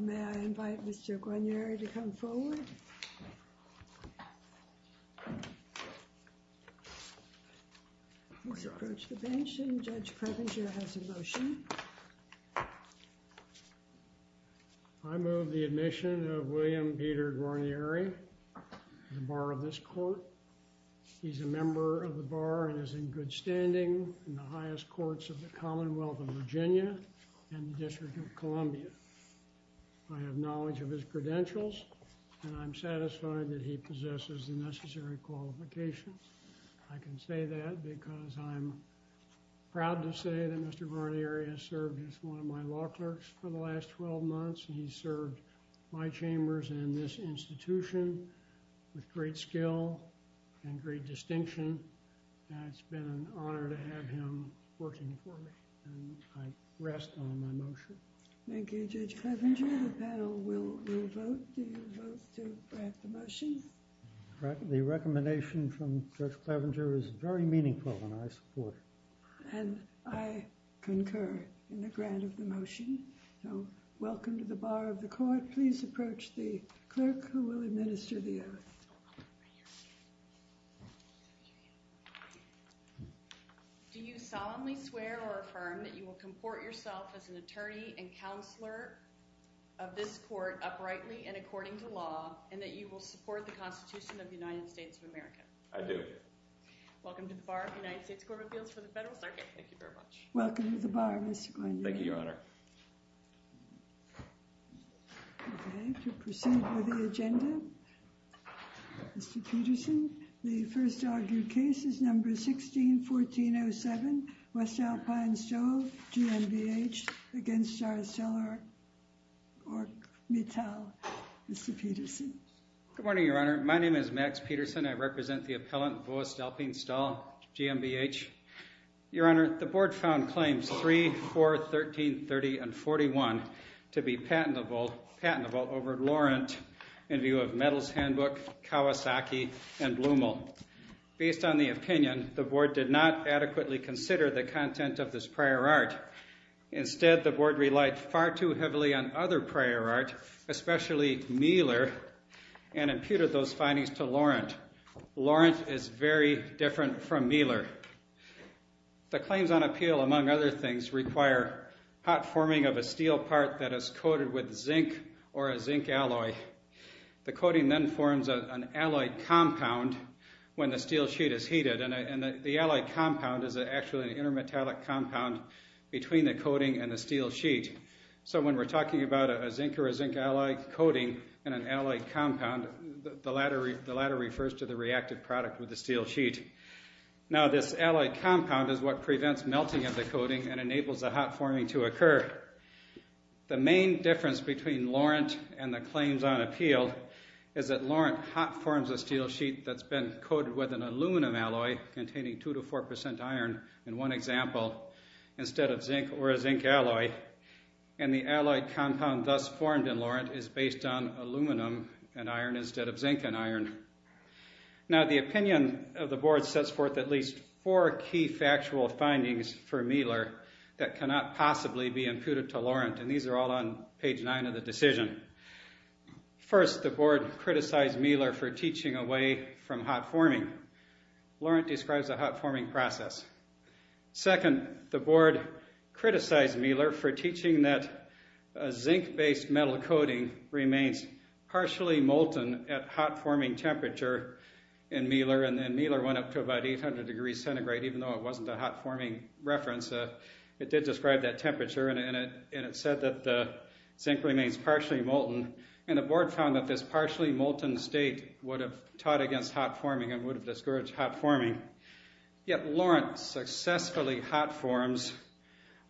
May I invite Mr. Guarnieri to come forward? Please approach the bench, and Judge Previnger has a motion. I move the admission of William Peter Guarnieri, the bar of this court. He's a member of the bar and is in good standing in the highest courts of the Commonwealth of Virginia and the District of Columbia. I have knowledge of his credentials, and I'm satisfied that he possesses the necessary qualifications. I can say that because I'm proud to say that Mr. Guarnieri has served as one of my law clerks for the last 12 months, and he's served my chambers and this institution with great skill and great distinction. It's been an honor to have him working for me, and I rest on my motion. Thank you, Judge Clevenger. The panel will vote. Do you vote to grant the motion? The recommendation from Judge Clevenger is very meaningful, and I support it. And I concur in the grant of the motion, so welcome to the bar of the court. Please approach the clerk who will administer the oath. Do you solemnly swear or affirm that you will comport yourself as an attorney and counselor of this court uprightly and according to law, and that you will support the Constitution of the United States of America? I do. Welcome to the bar of the United States Court of Appeals for the Federal Circuit. Thank you very much. Welcome to the bar, Mr. Guarnieri. Thank you, Your Honor. Okay, to proceed with the agenda, Mr. Peterson. The first argued case is number 16-1407, West Alpine Stove, GMBH, against Darcella Ork-Mittal. Mr. Peterson. Good morning, Your Honor. My name is Max Peterson. I represent the appellant, West Alpine Stove, GMBH. Your Honor, the board found claims 3, 4, 13, 30, and 41 to be patentable over Laurent in view of Mittal's handbook, Kawasaki, and Blumel. Based on the opinion, the board did not adequately consider the content of this prior art. Instead, the board relied far too heavily on other prior art, especially Mieler, and imputed those findings to Laurent. Laurent is very different from Mieler. The claims on appeal, among other things, require hot forming of a steel part that is coated with zinc or a zinc alloy. The coating then forms an alloy compound when the steel sheet is heated, and the alloy compound is actually an intermetallic compound between the coating and the steel sheet. So when we're talking about a zinc or a zinc alloy coating and an alloy compound, the latter refers to the reactive product with the steel sheet. Now, this alloy compound is what prevents melting of the coating and enables the hot forming to occur. The main difference between Laurent and the claims on appeal is that Laurent hot forms a steel sheet that's been coated with an aluminum alloy containing 2-4% iron, in one example, instead of zinc or a zinc alloy, and the alloy compound thus formed in Laurent is based on aluminum and iron instead of zinc and iron. Now, the opinion of the board sets forth at least four key factual findings for Mieler that cannot possibly be imputed to Laurent, and these are all on page 9 of the decision. First, the board criticized Mieler for teaching away from hot forming. Laurent describes the hot forming process. Second, the board criticized Mieler for teaching that a zinc-based metal coating remains partially molten at hot forming temperature in Mieler, and then Mieler went up to about 800 degrees centigrade, even though it wasn't a hot forming reference. It did describe that temperature, and it said that the zinc remains partially molten, and the board found that this partially molten state would have taught against hot forming and would have discouraged hot forming. Yet, Laurent successfully hot forms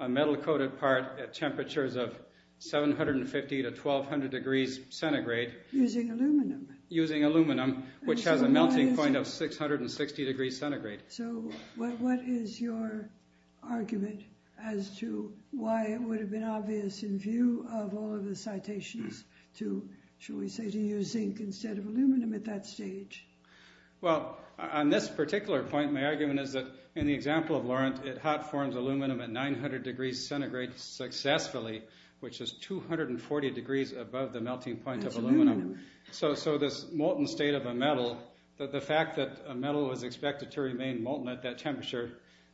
a metal-coated part at temperatures of 750 to 1200 degrees centigrade. Using aluminum? Using aluminum, which has a melting point of 660 degrees centigrade. So, what is your argument as to why it would have been obvious in view of all of the citations to, shall we say, to use zinc instead of aluminum at that stage? Well, on this particular point, my argument is that, in the example of Laurent, it hot forms aluminum at 900 degrees centigrade successfully, which is 240 degrees above the melting point of aluminum. So, this molten state of a metal, the fact that a metal is expected to remain molten at that temperature,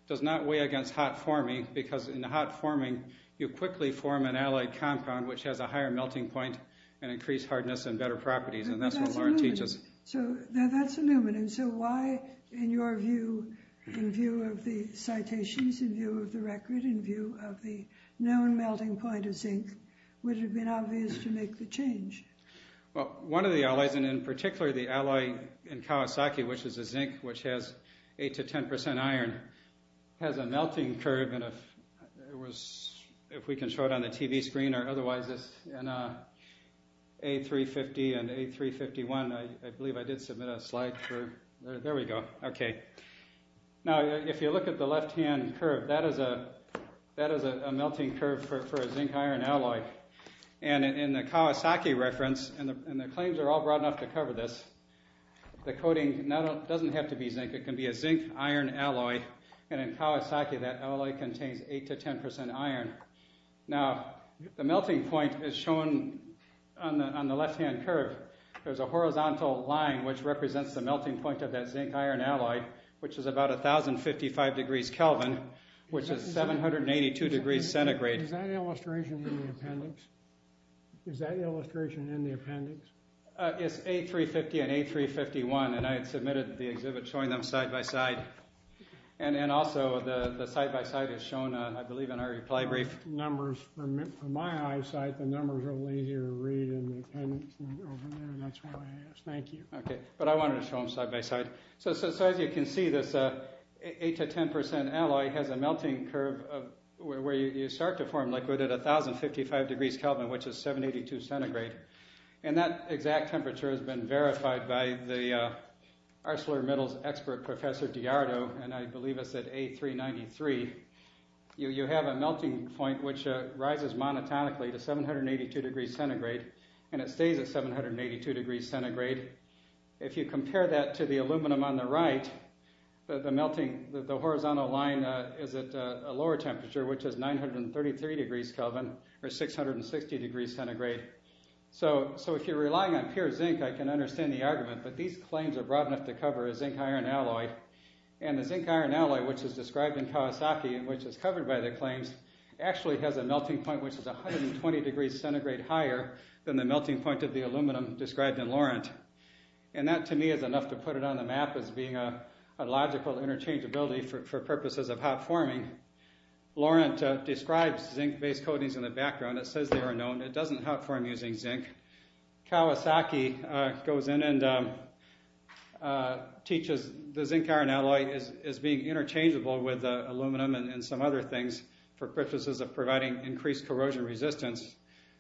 does not weigh against hot forming, because in hot forming, you quickly form an alloy compound which has a higher melting point and increased hardness and better properties, and that's what Laurent teaches. So, that's aluminum. So, why, in your view, in view of the citations, in view of the record, in view of the known melting point of zinc, would it have been obvious to make the change? Well, one of the alloys, and in particular, the alloy in Kawasaki, which is a zinc which has 8 to 10 percent iron, has a melting curve, if we can show it on the TV screen or otherwise, and A350 and A351, I believe I did submit a slide for, there we go, okay. Now, if you look at the left-hand curve, that is a melting curve for a zinc-iron alloy, and in the Kawasaki reference, and the claims are all broad enough to cover this, the coating doesn't have to be zinc, it can be a zinc-iron alloy, and in Kawasaki, that alloy contains 8 to 10 percent iron. Now, the melting point is shown on the left-hand curve. There's a horizontal line which represents the melting point of that zinc-iron alloy, which is about 1,055 degrees Kelvin, which is 782 degrees centigrade. Is that illustration in the appendix? Is that illustration in the appendix? Yes, A350 and A351, and I had submitted the exhibit showing them side-by-side, and also, the side-by-side is shown, I believe, in our reply brief. The numbers, from my eyesight, the numbers are a little easier to read in the appendix over there, and that's why I asked. Thank you. Okay, but I wanted to show them side-by-side. So, as you can see, this 8 to 10 percent alloy has a melting curve where you start to form liquid at 1,055 degrees Kelvin, which is 782 centigrade, and that exact temperature has been verified by the ArcelorMittal's expert, Professor Diardo, and I believe it's at A393. You have a melting point which rises monotonically to 782 degrees centigrade, and it stays at 782 degrees centigrade. If you compare that to the aluminum on the right, the horizontal line is at a lower temperature, which is 933 degrees Kelvin, or 660 degrees centigrade. So, if you're relying on pure zinc, I can understand the argument, but these claims are broad enough to cover a zinc-iron alloy, and the zinc-iron alloy, which is described in Kawasaki, and which is covered by the claims, actually has a melting point which is 120 degrees centigrade higher than the melting point of the aluminum described in Lorent. And that, to me, is enough to put it on the map as being a logical interchangeability for purposes of hot forming. Lorent describes zinc-based coatings in the background. It says they are known. It doesn't hot form using zinc. Kawasaki goes in and teaches the zinc-iron alloy as being interchangeable with aluminum and some other things for purposes of providing increased corrosion resistance.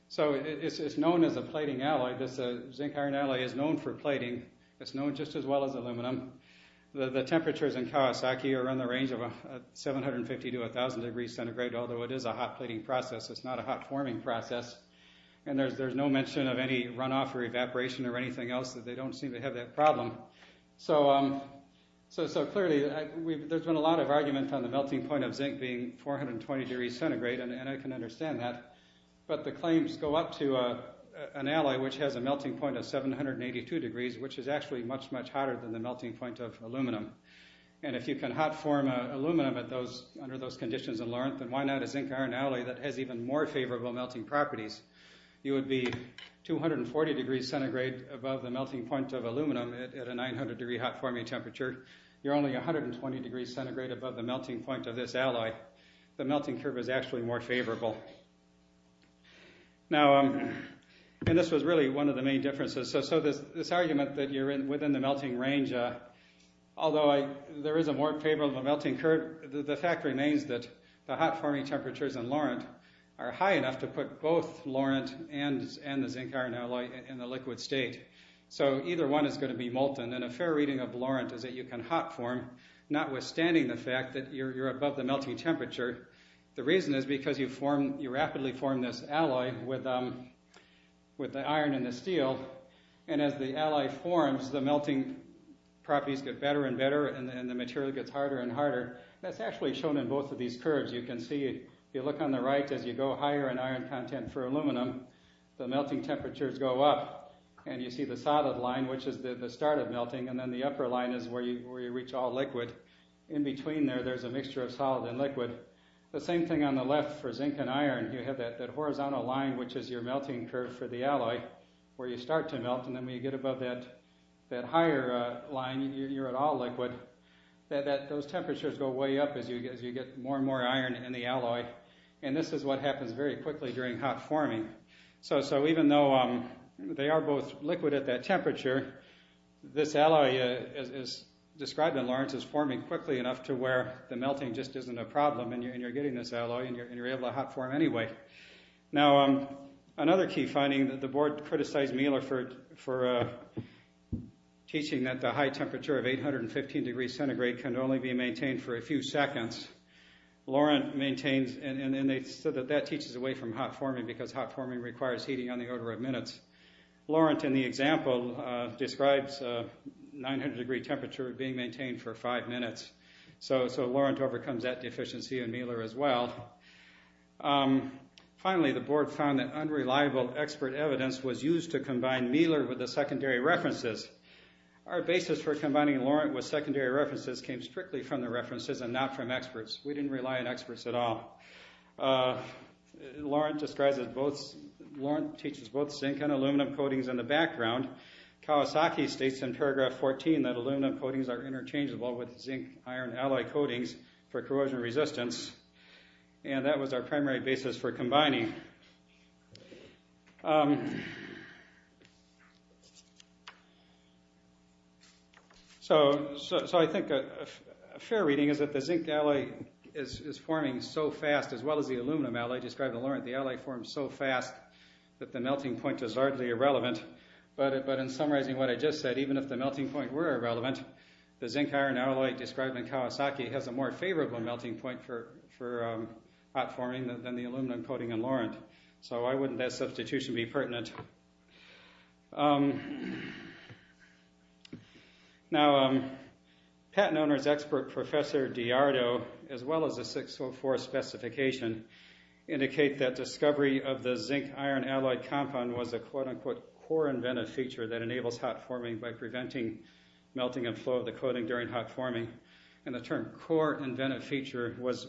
So, it's known as a plating alloy. The zinc-iron alloy is known for plating. It's known just as well as aluminum. The temperatures in Kawasaki are on the range of 750 to 1000 degrees centigrade, although it is a hot plating process. It's not a hot forming process. And there's no mention of any runoff or evaporation or anything else. They don't seem to have that problem. So, clearly, there's been a lot of argument on the melting point of zinc being 420 degrees centigrade, and I can understand that. But the claims go up to an alloy which has a melting point of 782 degrees, which is actually much, much hotter than the melting point of aluminum. And if you can hot form aluminum under those conditions in Lorent, then why not a zinc-iron alloy that has even more favorable melting properties? You would be 240 degrees centigrade above the melting point of aluminum at a 900 degree hot forming temperature. You're only 120 degrees centigrade above the melting point of this alloy. The melting curve is actually more favorable. Now, and this was really one of the main differences. So, this argument that you're within the melting range, although there is a more favorable melting curve, the fact remains that the hot forming temperatures in Lorent are high enough to put both Lorent and the zinc-iron alloy in the liquid state. So, either one is going to be molten, and a fair reading of Lorent is that you can hot form, notwithstanding the fact that you're above the melting temperature. The reason is because you rapidly form this alloy with the iron and the steel, and as the alloy forms, the melting properties get better and better, and the material gets harder and harder. That's actually shown in both of these curves. You can see, if you look on the right, as you go higher in iron content for aluminum, the melting temperatures go up. And you see the solid line, which is the start of melting, and then the upper line is where you reach all liquid. In between there, there's a mixture of solid and liquid. The same thing on the left for zinc and iron. You have that horizontal line, which is your melting curve for the alloy, where you start to melt, and then when you get above that higher line, you're at all liquid. Those temperatures go way up as you get more and more iron in the alloy, and this is what happens very quickly during hot forming. Even though they are both liquid at that temperature, this alloy, as described in Lorentz, is forming quickly enough to where the melting just isn't a problem, and you're getting this alloy, and you're able to hot form anyway. Another key finding, the board criticized Miller for teaching that the high temperature of 815 degrees centigrade can only be maintained for a few seconds. And they said that that teaches away from hot forming because hot forming requires heating on the order of minutes. Lorentz, in the example, describes a 900 degree temperature being maintained for five minutes. So Lorentz overcomes that deficiency in Miller as well. Finally, the board found that unreliable expert evidence was used to combine Miller with the secondary references. Our basis for combining Lorentz with secondary references came strictly from the references and not from experts. We didn't rely on experts at all. Lorentz teaches both zinc and aluminum coatings in the background. Kawasaki states in paragraph 14 that aluminum coatings are interchangeable with zinc-iron alloy coatings for corrosion resistance, and that was our primary basis for combining. So I think a fair reading is that the zinc alloy is forming so fast as well as the aluminum alloy described in Lorentz. The alloy forms so fast that the melting point is hardly irrelevant. But in summarizing what I just said, even if the melting point were irrelevant, the zinc-iron alloy described in Kawasaki has a more favorable melting point for hot forming than the aluminum coating in Lorentz. So why wouldn't that substitution be pertinent? Now, patent owner's expert professor Diardo, as well as the 604 specification, indicate that discovery of the zinc-iron alloy compound was a quote-unquote core inventive feature that enables hot forming by preventing melting and flow of the coating during hot forming. And the term core inventive feature was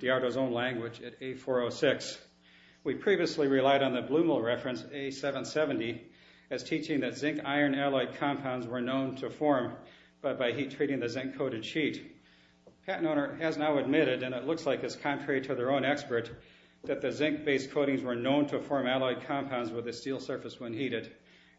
Diardo's own language at A406. We previously relied on the Blumel reference, A770, as teaching that zinc-iron alloy compounds were known to form, but by heat treating the zinc-coated sheet. Patent owner has now admitted, and it looks like it's contrary to their own expert, that the zinc-based coatings were known to form alloy compounds with a steel surface when heated.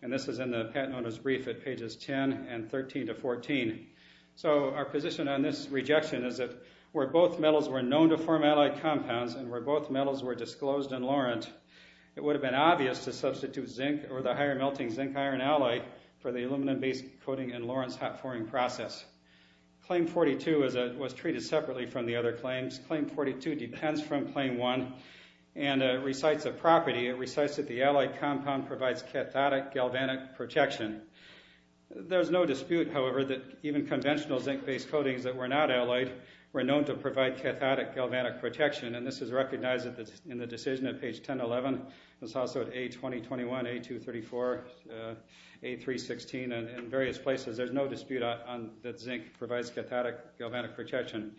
And this is in the patent owner's brief at pages 10 and 13 to 14. So our position on this rejection is that where both metals were known to form alloy compounds and where both metals were disclosed in Lorentz, it would have been obvious to substitute zinc or the higher melting zinc-iron alloy for the aluminum-based coating in Lorentz hot forming process. Claim 42 was treated separately from the other claims. Claim 42 depends from Claim 1 and recites a property. It recites that the alloy compound provides cathodic galvanic protection. There's no dispute, however, that even conventional zinc-based coatings that were not alloyed were known to provide cathodic galvanic protection. And this is recognized in the decision at page 1011. It's also at A2021, A234, A316, and various places. There's no dispute that zinc provides cathodic galvanic protection.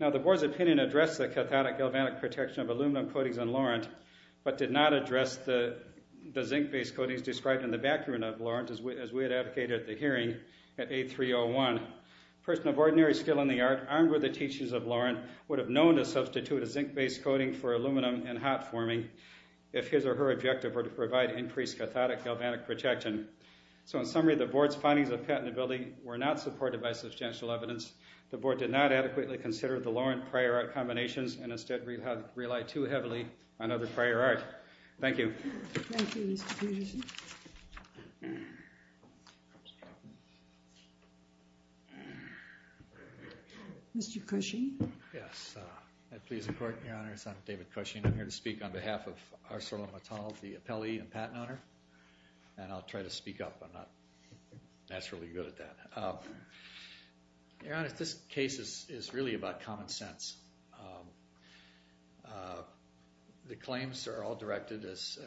Now, the board's opinion addressed the cathodic galvanic protection of aluminum coatings in Lorentz, but did not address the zinc-based coatings described in the background of Lorentz as we had advocated at the hearing at A301. A person of ordinary skill in the art, armed with the teachings of Lorentz, would have known to substitute a zinc-based coating for aluminum in hot forming if his or her objective were to provide increased cathodic galvanic protection. So in summary, the board's findings of patentability were not supported by substantial evidence. The board did not adequately consider the Lorentz prior art combinations, and instead relied too heavily on other prior art. Thank you. Thank you, Mr. Peterson. Mr. Cushing? Yes. That please the Court, Your Honors. I'm David Cushing. I'm here to speak on behalf of ArcelorMittal, the appellee and patent owner. And I'll try to speak up. I'm not naturally good at that. Your Honor, this case is really about common sense. The claims are all directed, as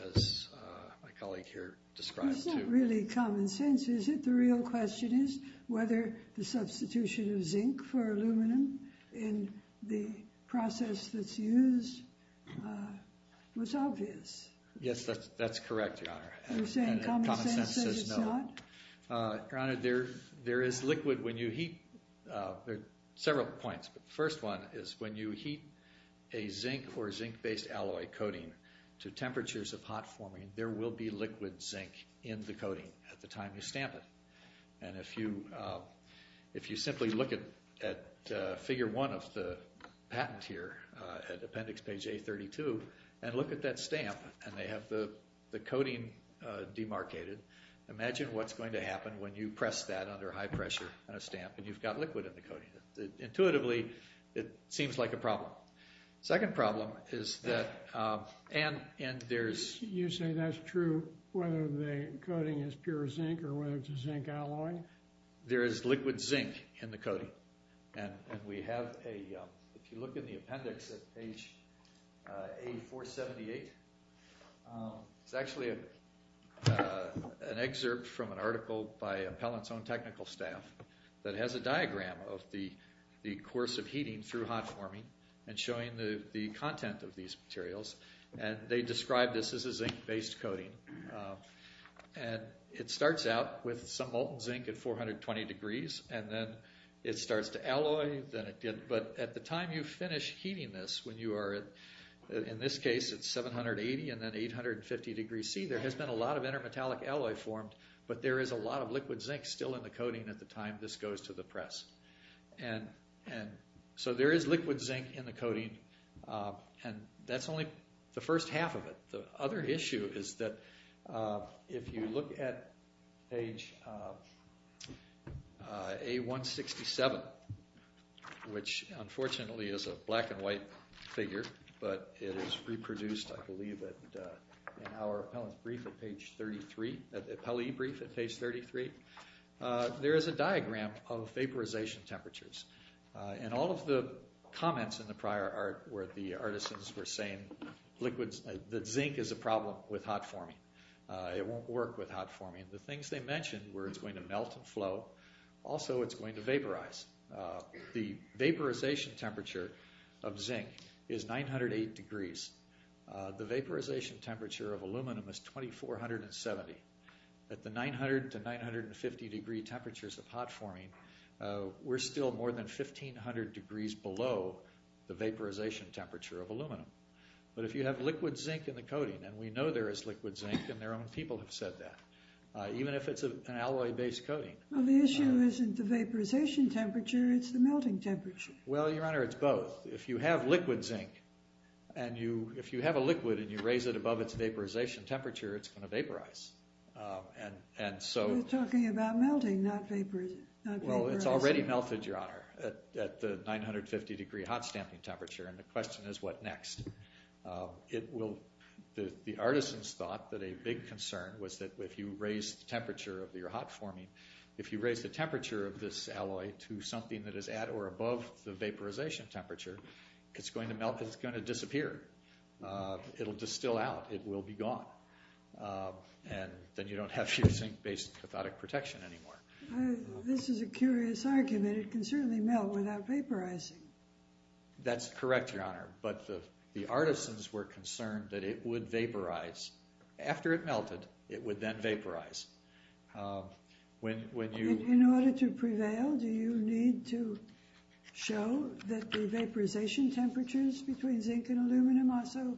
my colleague here described, to It's not really common sense, is it? The real question is whether the substitution of zinc for aluminum in the process that's used was obvious. Yes, that's correct, Your Honor. You're saying common sense says it's not? Your Honor, there is liquid when you heat There are several points. The first one is when you heat a zinc or zinc-based alloy coating to temperatures of hot forming, there will be liquid zinc in the coating at the time you stamp it. And if you simply look at figure one of the patent here, at appendix page A32, and look at that stamp, and they have the coating demarcated, imagine what's going to happen when you press that under high pressure on a stamp and you've got liquid in the coating. Intuitively, it seems like a problem. Second problem is that You say that's true whether the coating is pure zinc or whether it's a zinc alloy? There is liquid zinc in the coating. And we have a, if you look in the appendix at page A478, there's actually an excerpt from an article by Appellant's own technical staff that has a diagram of the course of heating through hot forming and showing the content of these materials. And they describe this as a zinc-based coating. And it starts out with some molten zinc at 420 degrees, and then it starts to alloy, but at the time you finish heating this, when you are, in this case, at 780 and then 850 degrees C, there has been a lot of intermetallic alloy formed, but there is a lot of liquid zinc still in the coating at the time this goes to the press. And so there is liquid zinc in the coating, and that's only the first half of it. The other issue is that if you look at page A167, which unfortunately is a black and white figure, but it is reproduced, I believe, in our Appellant's brief at page 33, the Appellee brief at page 33, there is a diagram of vaporization temperatures. And all of the comments in the prior art where the artisans were saying that zinc is a problem with hot forming. It won't work with hot forming. The things they mentioned were it's going to melt and flow. Also, it's going to vaporize. The vaporization temperature of zinc is 908 degrees. The vaporization temperature of aluminum is 2470. At the 900 to 950 degree temperatures of hot forming, we're still more than 1500 degrees below the vaporization temperature of aluminum. But if you have liquid zinc in the coating, and we know there is liquid zinc and their own people have said that, even if it's an alloy-based coating. Well, the issue isn't the vaporization temperature. It's the melting temperature. Well, Your Honor, it's both. If you have liquid zinc and you have a liquid and you raise it above its vaporization temperature, it's going to vaporize. You're talking about melting, not vaporizing. Well, it's already melted, Your Honor, at the 950 degree hot stamping temperature, and the question is what next. The artisans thought that a big concern was that if you raise the temperature of your hot forming, if you raise the temperature of this alloy to something that is at or above the vaporization temperature, it's going to melt and it's going to disappear. It'll distill out. It will be gone. And then you don't have your zinc-based cathodic protection anymore. This is a curious argument. It can certainly melt without vaporizing. That's correct, Your Honor, but the artisans were concerned that it would vaporize. After it melted, it would then vaporize. When you... In order to prevail, do you need to show that the vaporization temperatures between zinc and aluminum are so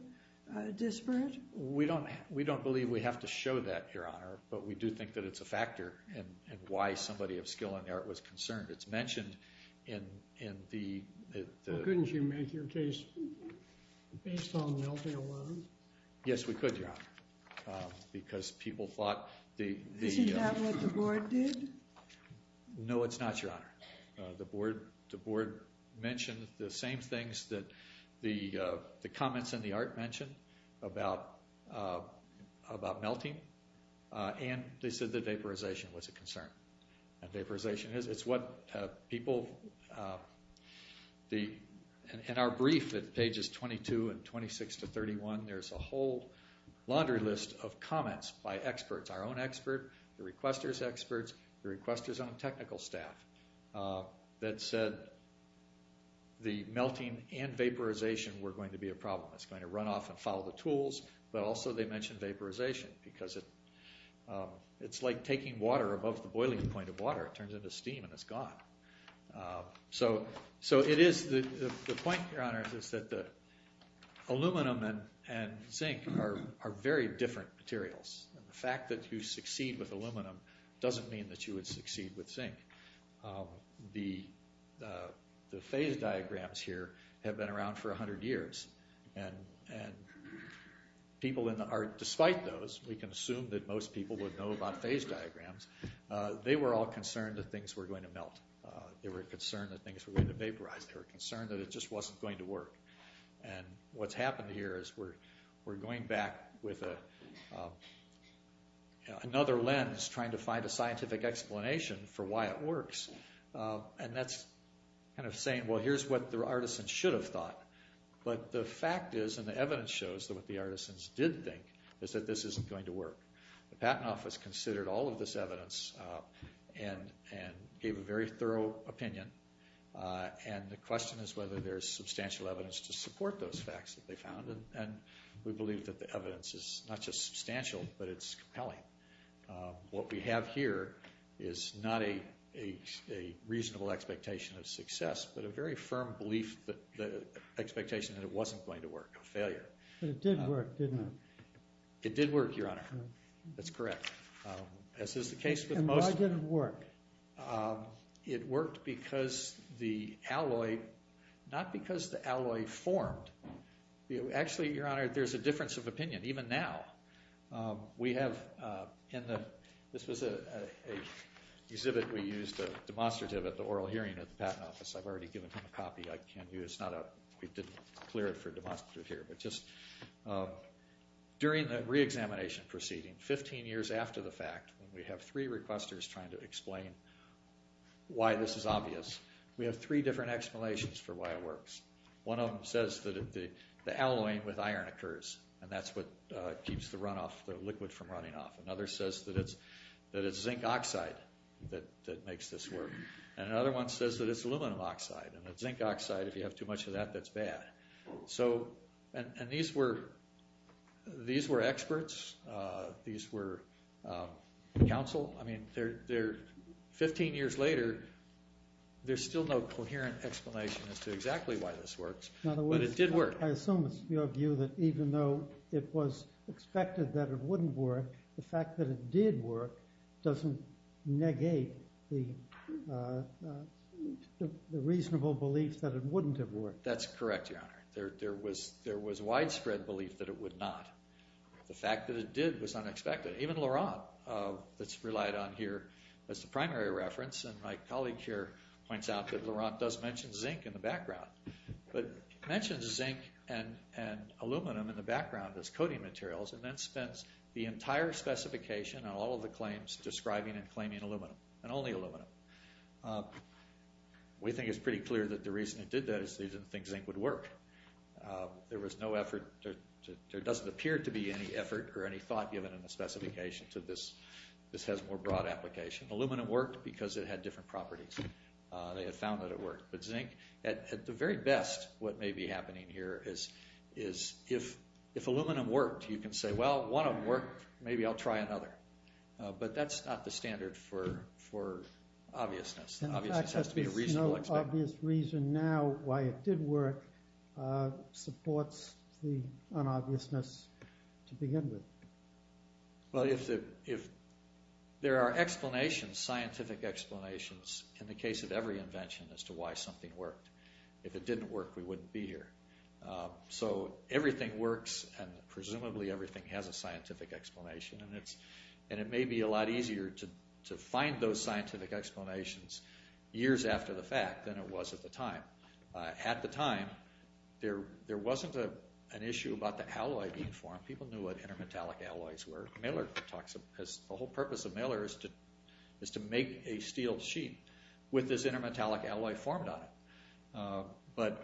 disparate? We don't believe we have to show that, Your Honor, but we do think that it's a factor in why somebody of skill in the art was concerned. It's mentioned in the... Couldn't you make your case based on melting alone? Yes, we could, Your Honor, because people thought the... Isn't that what the board did? No, it's not, Your Honor. The board mentioned the same things that the comments in the art mentioned about melting, and they said that vaporization was a concern. And vaporization is. It's what people... In our brief at pages 22 and 26 to 31, there's a whole laundry list of comments by experts, our own expert, the requester's experts, the requester's own technical staff, that said the melting and vaporization were going to be a problem. It's going to run off and follow the tools, but also they mentioned vaporization because it's like taking water above the boiling point of water. It turns into steam and it's gone. So it is... The point, Your Honor, is that the aluminum and zinc are very different materials, and the fact that you succeed with aluminum doesn't mean that you would succeed with zinc. The phase diagrams here have been around for 100 years, and people in the art, despite those, we can assume that most people would know about phase diagrams, they were all concerned that things were going to melt. They were concerned that things were going to vaporize. They were concerned that it just wasn't going to work. And what's happened here is we're going back with another lens trying to find a scientific explanation for why it works. And that's kind of saying, well, here's what the artisan should have thought. But the fact is, and the evidence shows, that what the artisans did think is that this isn't going to work. The Patent Office considered all of this evidence and gave a very thorough opinion, and the question is whether there's substantial evidence to support those facts that they found. And we believe that the evidence is not just substantial, but it's compelling. What we have here is not a reasonable expectation of success, but a very firm belief, expectation, that it wasn't going to work, a failure. But it did work, didn't it? It did work, Your Honor. That's correct. And why did it work? It worked because the alloy, not because the alloy formed. Actually, Your Honor, there's a difference of opinion, even now. We have in the... This was an exhibit we used, a demonstrative, at the oral hearing at the Patent Office. I've already given him a copy I can use. We didn't clear it for demonstrative here. During the reexamination proceeding, 15 years after the fact, we have three requesters trying to explain why this is obvious. We have three different explanations for why it works. One of them says that the alloying with iron occurs, and that's what keeps the runoff, the liquid from running off. Another says that it's zinc oxide that makes this work. And another one says that it's aluminum oxide, and that zinc oxide, if you have too much of that, that's bad. And these were experts. These were counsel. I mean, 15 years later, there's still no coherent explanation as to exactly why this works, but it did work. I assume it's your view that even though it was expected that it wouldn't work, the fact that it did work doesn't negate the reasonable belief that it wouldn't have worked. That's correct, Your Honor. There was widespread belief that it would not. The fact that it did was unexpected. Even Laurent, that's relied on here as the primary reference, and my colleague here points out that Laurent does mention zinc in the background, but mentions zinc and aluminum in the background as coating materials and then spends the entire specification on all of the claims describing and claiming aluminum, and only aluminum. We think it's pretty clear that the reason it did that is they didn't think zinc would work. There was no effort. There doesn't appear to be any effort or any thought given in the specification to this has more broad application. Aluminum worked because it had different properties. They had found that it worked. But zinc, at the very best, what may be happening here is if aluminum worked, you can say, well, one of them worked, maybe I'll try another. But that's not the standard for obviousness. Obviousness has to be a reasonable expectation. In fact, there's no obvious reason now why it did work supports the unobviousness to begin with. Well, there are explanations, scientific explanations, in the case of every invention as to why something worked. If it didn't work, we wouldn't be here. So everything works, and presumably everything has a scientific explanation. And it may be a lot easier to find those scientific explanations years after the fact than it was at the time. At the time, there wasn't an issue about the alloy being formed. People knew what intermetallic alloys were. The whole purpose of Miller is to make a steel sheet with this intermetallic alloy formed on it. But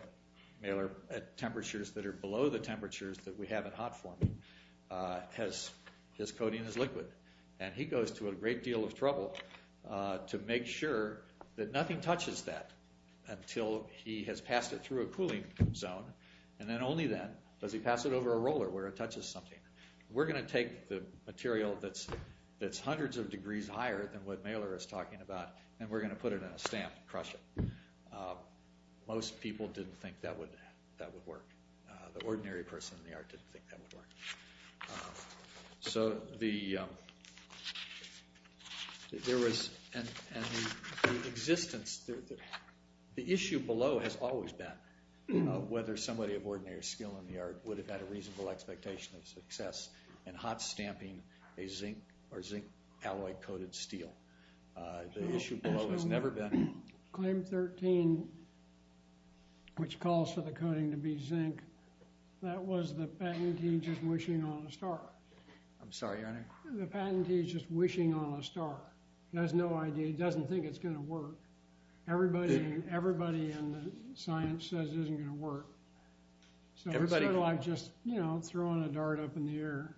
Miller, at temperatures that are below the temperatures that we have in hot forming, his coating is liquid. And he goes to a great deal of trouble to make sure that nothing touches that until he has passed it through a cooling zone. And then only then does he pass it over a roller where it touches something. We're going to take the material that's hundreds of degrees higher than what Miller is talking about, and we're going to put it in a stamp and crush it. Most people didn't think that would work. The ordinary person in the art didn't think that would work. The issue below has always been whether somebody of ordinary skill in the art would have had a reasonable expectation of success in hot stamping a zinc alloy-coated steel. The issue below has never been. Claim 13, which calls for the coating to be zinc, that was the patentee just wishing on a star. I'm sorry, Your Honor. The patentee is just wishing on a star. He has no idea. He doesn't think it's going to work. Everybody in the science says it isn't going to work. So it's sort of like just throwing a dart up in the air.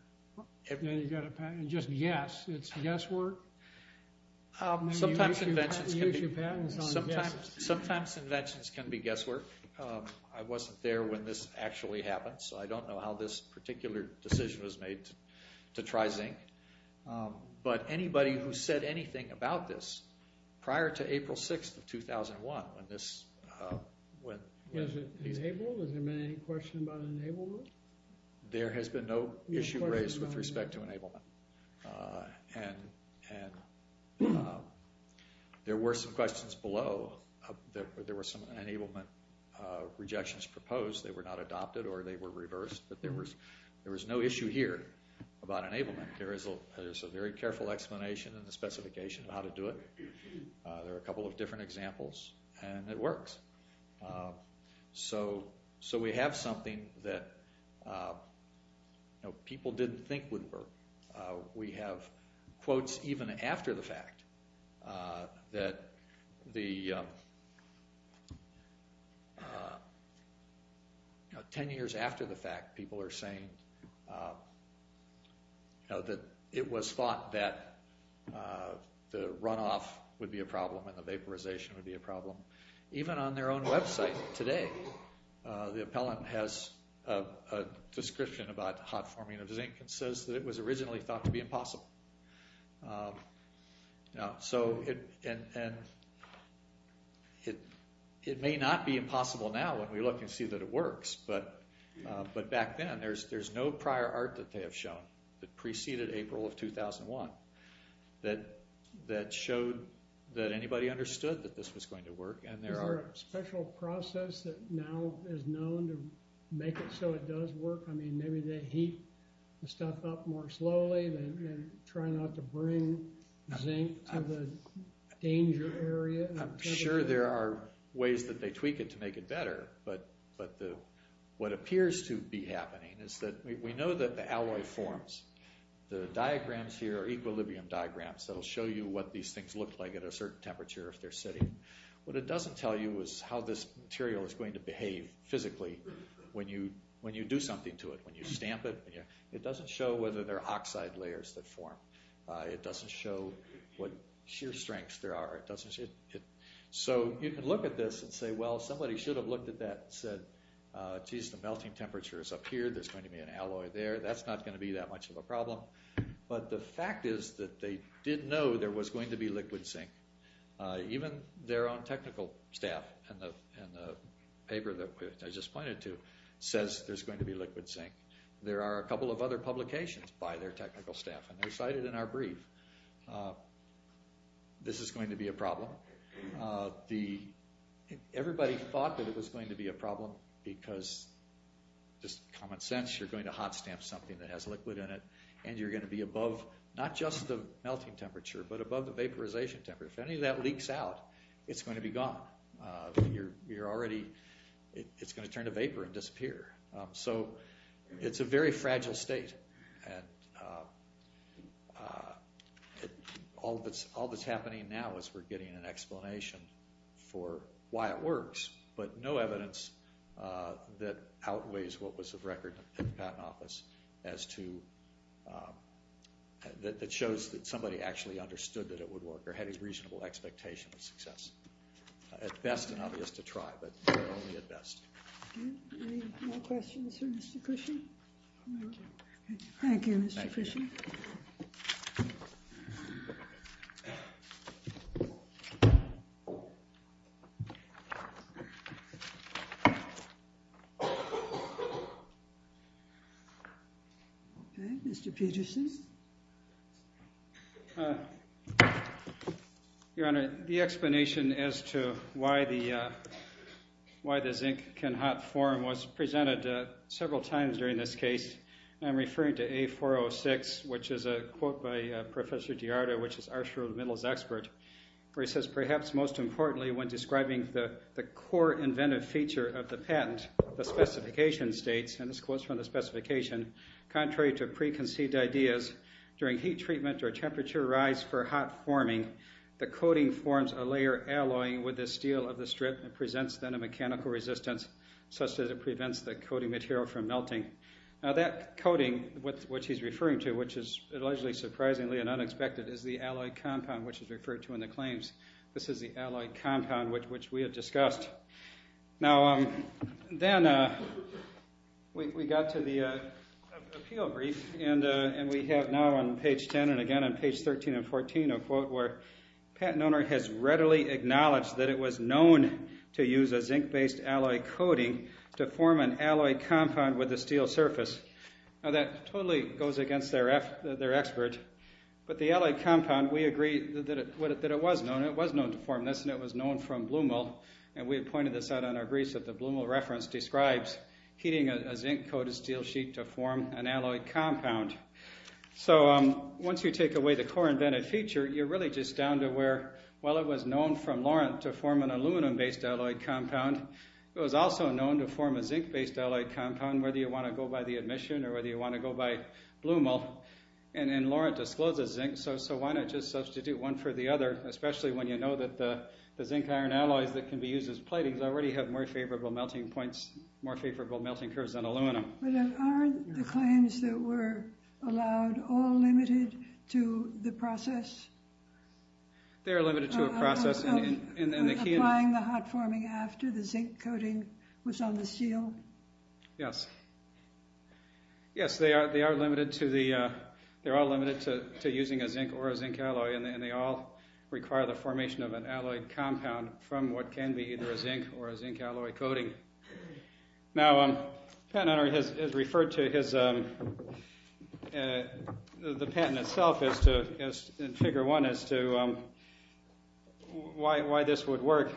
Then you've got a patent. Just guess. It's guesswork? Sometimes inventions can be guesswork. I wasn't there when this actually happened, so I don't know how this particular decision was made to try zinc. But anybody who said anything about this prior to April 6th of 2001 when this went… Was it enabled? Has there been any question about enablement? There has been no issue raised with respect to enablement, and there were some questions below. There were some enablement rejections proposed. They were not adopted or they were reversed, but there was no issue here about enablement. There is a very careful explanation in the specification of how to do it. There are a couple of different examples, and it works. So we have something that people didn't think would work. We have quotes even after the fact. Ten years after the fact, people are saying that it was thought that the runoff would be a problem and the vaporization would be a problem. Even on their own website today, the appellant has a description about hot forming of zinc and says that it was originally thought to be impossible. It may not be impossible now when we look and see that it works, but back then there's no prior art that they have shown that preceded April of 2001 that showed that anybody understood that this was going to work. Is there a special process that now is known to make it so it does work? Maybe they heat the stuff up more slowly and try not to bring zinc to the danger area? I'm sure there are ways that they tweak it to make it better, but what appears to be happening is that we know that the alloy forms. The diagrams here are equilibrium diagrams that will show you what these things look like at a certain temperature if they're sitting. What it doesn't tell you is how this material is going to behave physically when you do something to it, when you stamp it. It doesn't show whether there are oxide layers that form. It doesn't show what shear strengths there are. So you can look at this and say, well, somebody should have looked at that and said, geez, the melting temperature is up here, there's going to be an alloy there. That's not going to be that much of a problem. But the fact is that they did know there was going to be liquid zinc. Even their own technical staff in the paper that I just pointed to says there's going to be liquid zinc. There are a couple of other publications by their technical staff, and they cited in our brief. This is going to be a problem. Everybody thought that it was going to be a problem because, just common sense, you're going to hot stamp something that has liquid in it, and you're going to be above not just the melting temperature but above the vaporization temperature. If any of that leaks out, it's going to be gone. You're already going to turn to vapor and disappear. So it's a very fragile state. All that's happening now is we're getting an explanation for why it works, but no evidence that outweighs what was of record in the patent office that shows that somebody actually understood that it would work or had a reasonable expectation of success. At best, it's obvious to try, but only at best. Any more questions for Mr. Cushing? Thank you, Mr. Cushing. Okay, Mr. Peterson. Your Honor, the explanation as to why the zinc can hot form was presented several times during this case, and I'm referring to A406, which is a quote by Professor DiArto, which is Arsher Middle's expert, where he says, perhaps most importantly, when describing the core inventive feature of the patent, the specification states, and this quote's from the specification, contrary to preconceived ideas, during heat treatment or temperature rise for hot forming, the coating forms a layer alloying with the steel of the strip and presents then a mechanical resistance such that it prevents the coating material from melting. Now that coating, which he's referring to, which is allegedly surprisingly and unexpected, is the alloy compound, which is referred to in the claims. This is the alloy compound, which we have discussed. Now then we got to the appeal brief, and we have now on page 10 and again on page 13 and 14 a quote where patent owner has readily acknowledged that it was known to use a zinc-based alloy coating to form an alloy compound with a steel surface. Now that totally goes against their expert, but the alloy compound, we agree that it was known. It was known to form this, and it was known from Blumel, and we had pointed this out on our briefs that the Blumel reference describes heating a zinc-coated steel sheet to form an alloy compound. So once you take away the core inventive feature, you're really just down to where, while it was known from Laurent to form an aluminum-based alloy compound, it was also known to form a zinc-based alloy compound, depending on whether you want to go by the admission or whether you want to go by Blumel. And then Laurent discloses zinc, so why not just substitute one for the other, especially when you know that the zinc-iron alloys that can be used as platings already have more favorable melting points, more favorable melting curves than aluminum. But aren't the claims that were allowed all limited to the process? They are limited to a process. So applying the hot forming after the zinc coating was on the steel? Yes. Yes, they are limited to using a zinc or a zinc alloy, and they all require the formation of an alloy compound from what can be either a zinc or a zinc alloy coating. Now, Pat Hunter has referred to the patent itself in Figure 1 as to why this would work,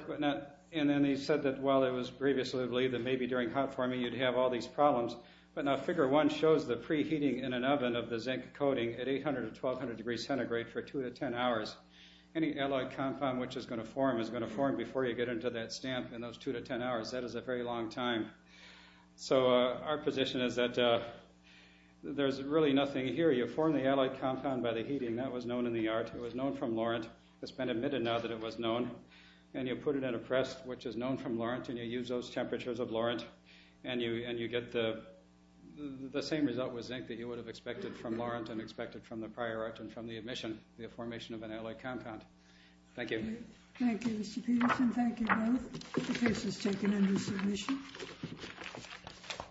and then he said that while it was previously believed that maybe during hot forming you'd have all these problems, but now Figure 1 shows the preheating in an oven of the zinc coating at 800 to 1200 degrees centigrade for 2 to 10 hours. Any alloy compound which is going to form is going to form before you get into that stamp in those 2 to 10 hours. That is a very long time. So our position is that there's really nothing here. You form the alloy compound by the heating. That was known in the art. It was known from Lorentz. It's been admitted now that it was known. And you put it in a press, which is known from Lorentz, and you use those temperatures of Lorentz, and you get the same result with zinc that you would have expected from Lorentz and expected from the prior art and from the emission, the formation of an alloy compound. Thank you. Thank you, Mr. Peterson. Thank you both. The case is taken under submission.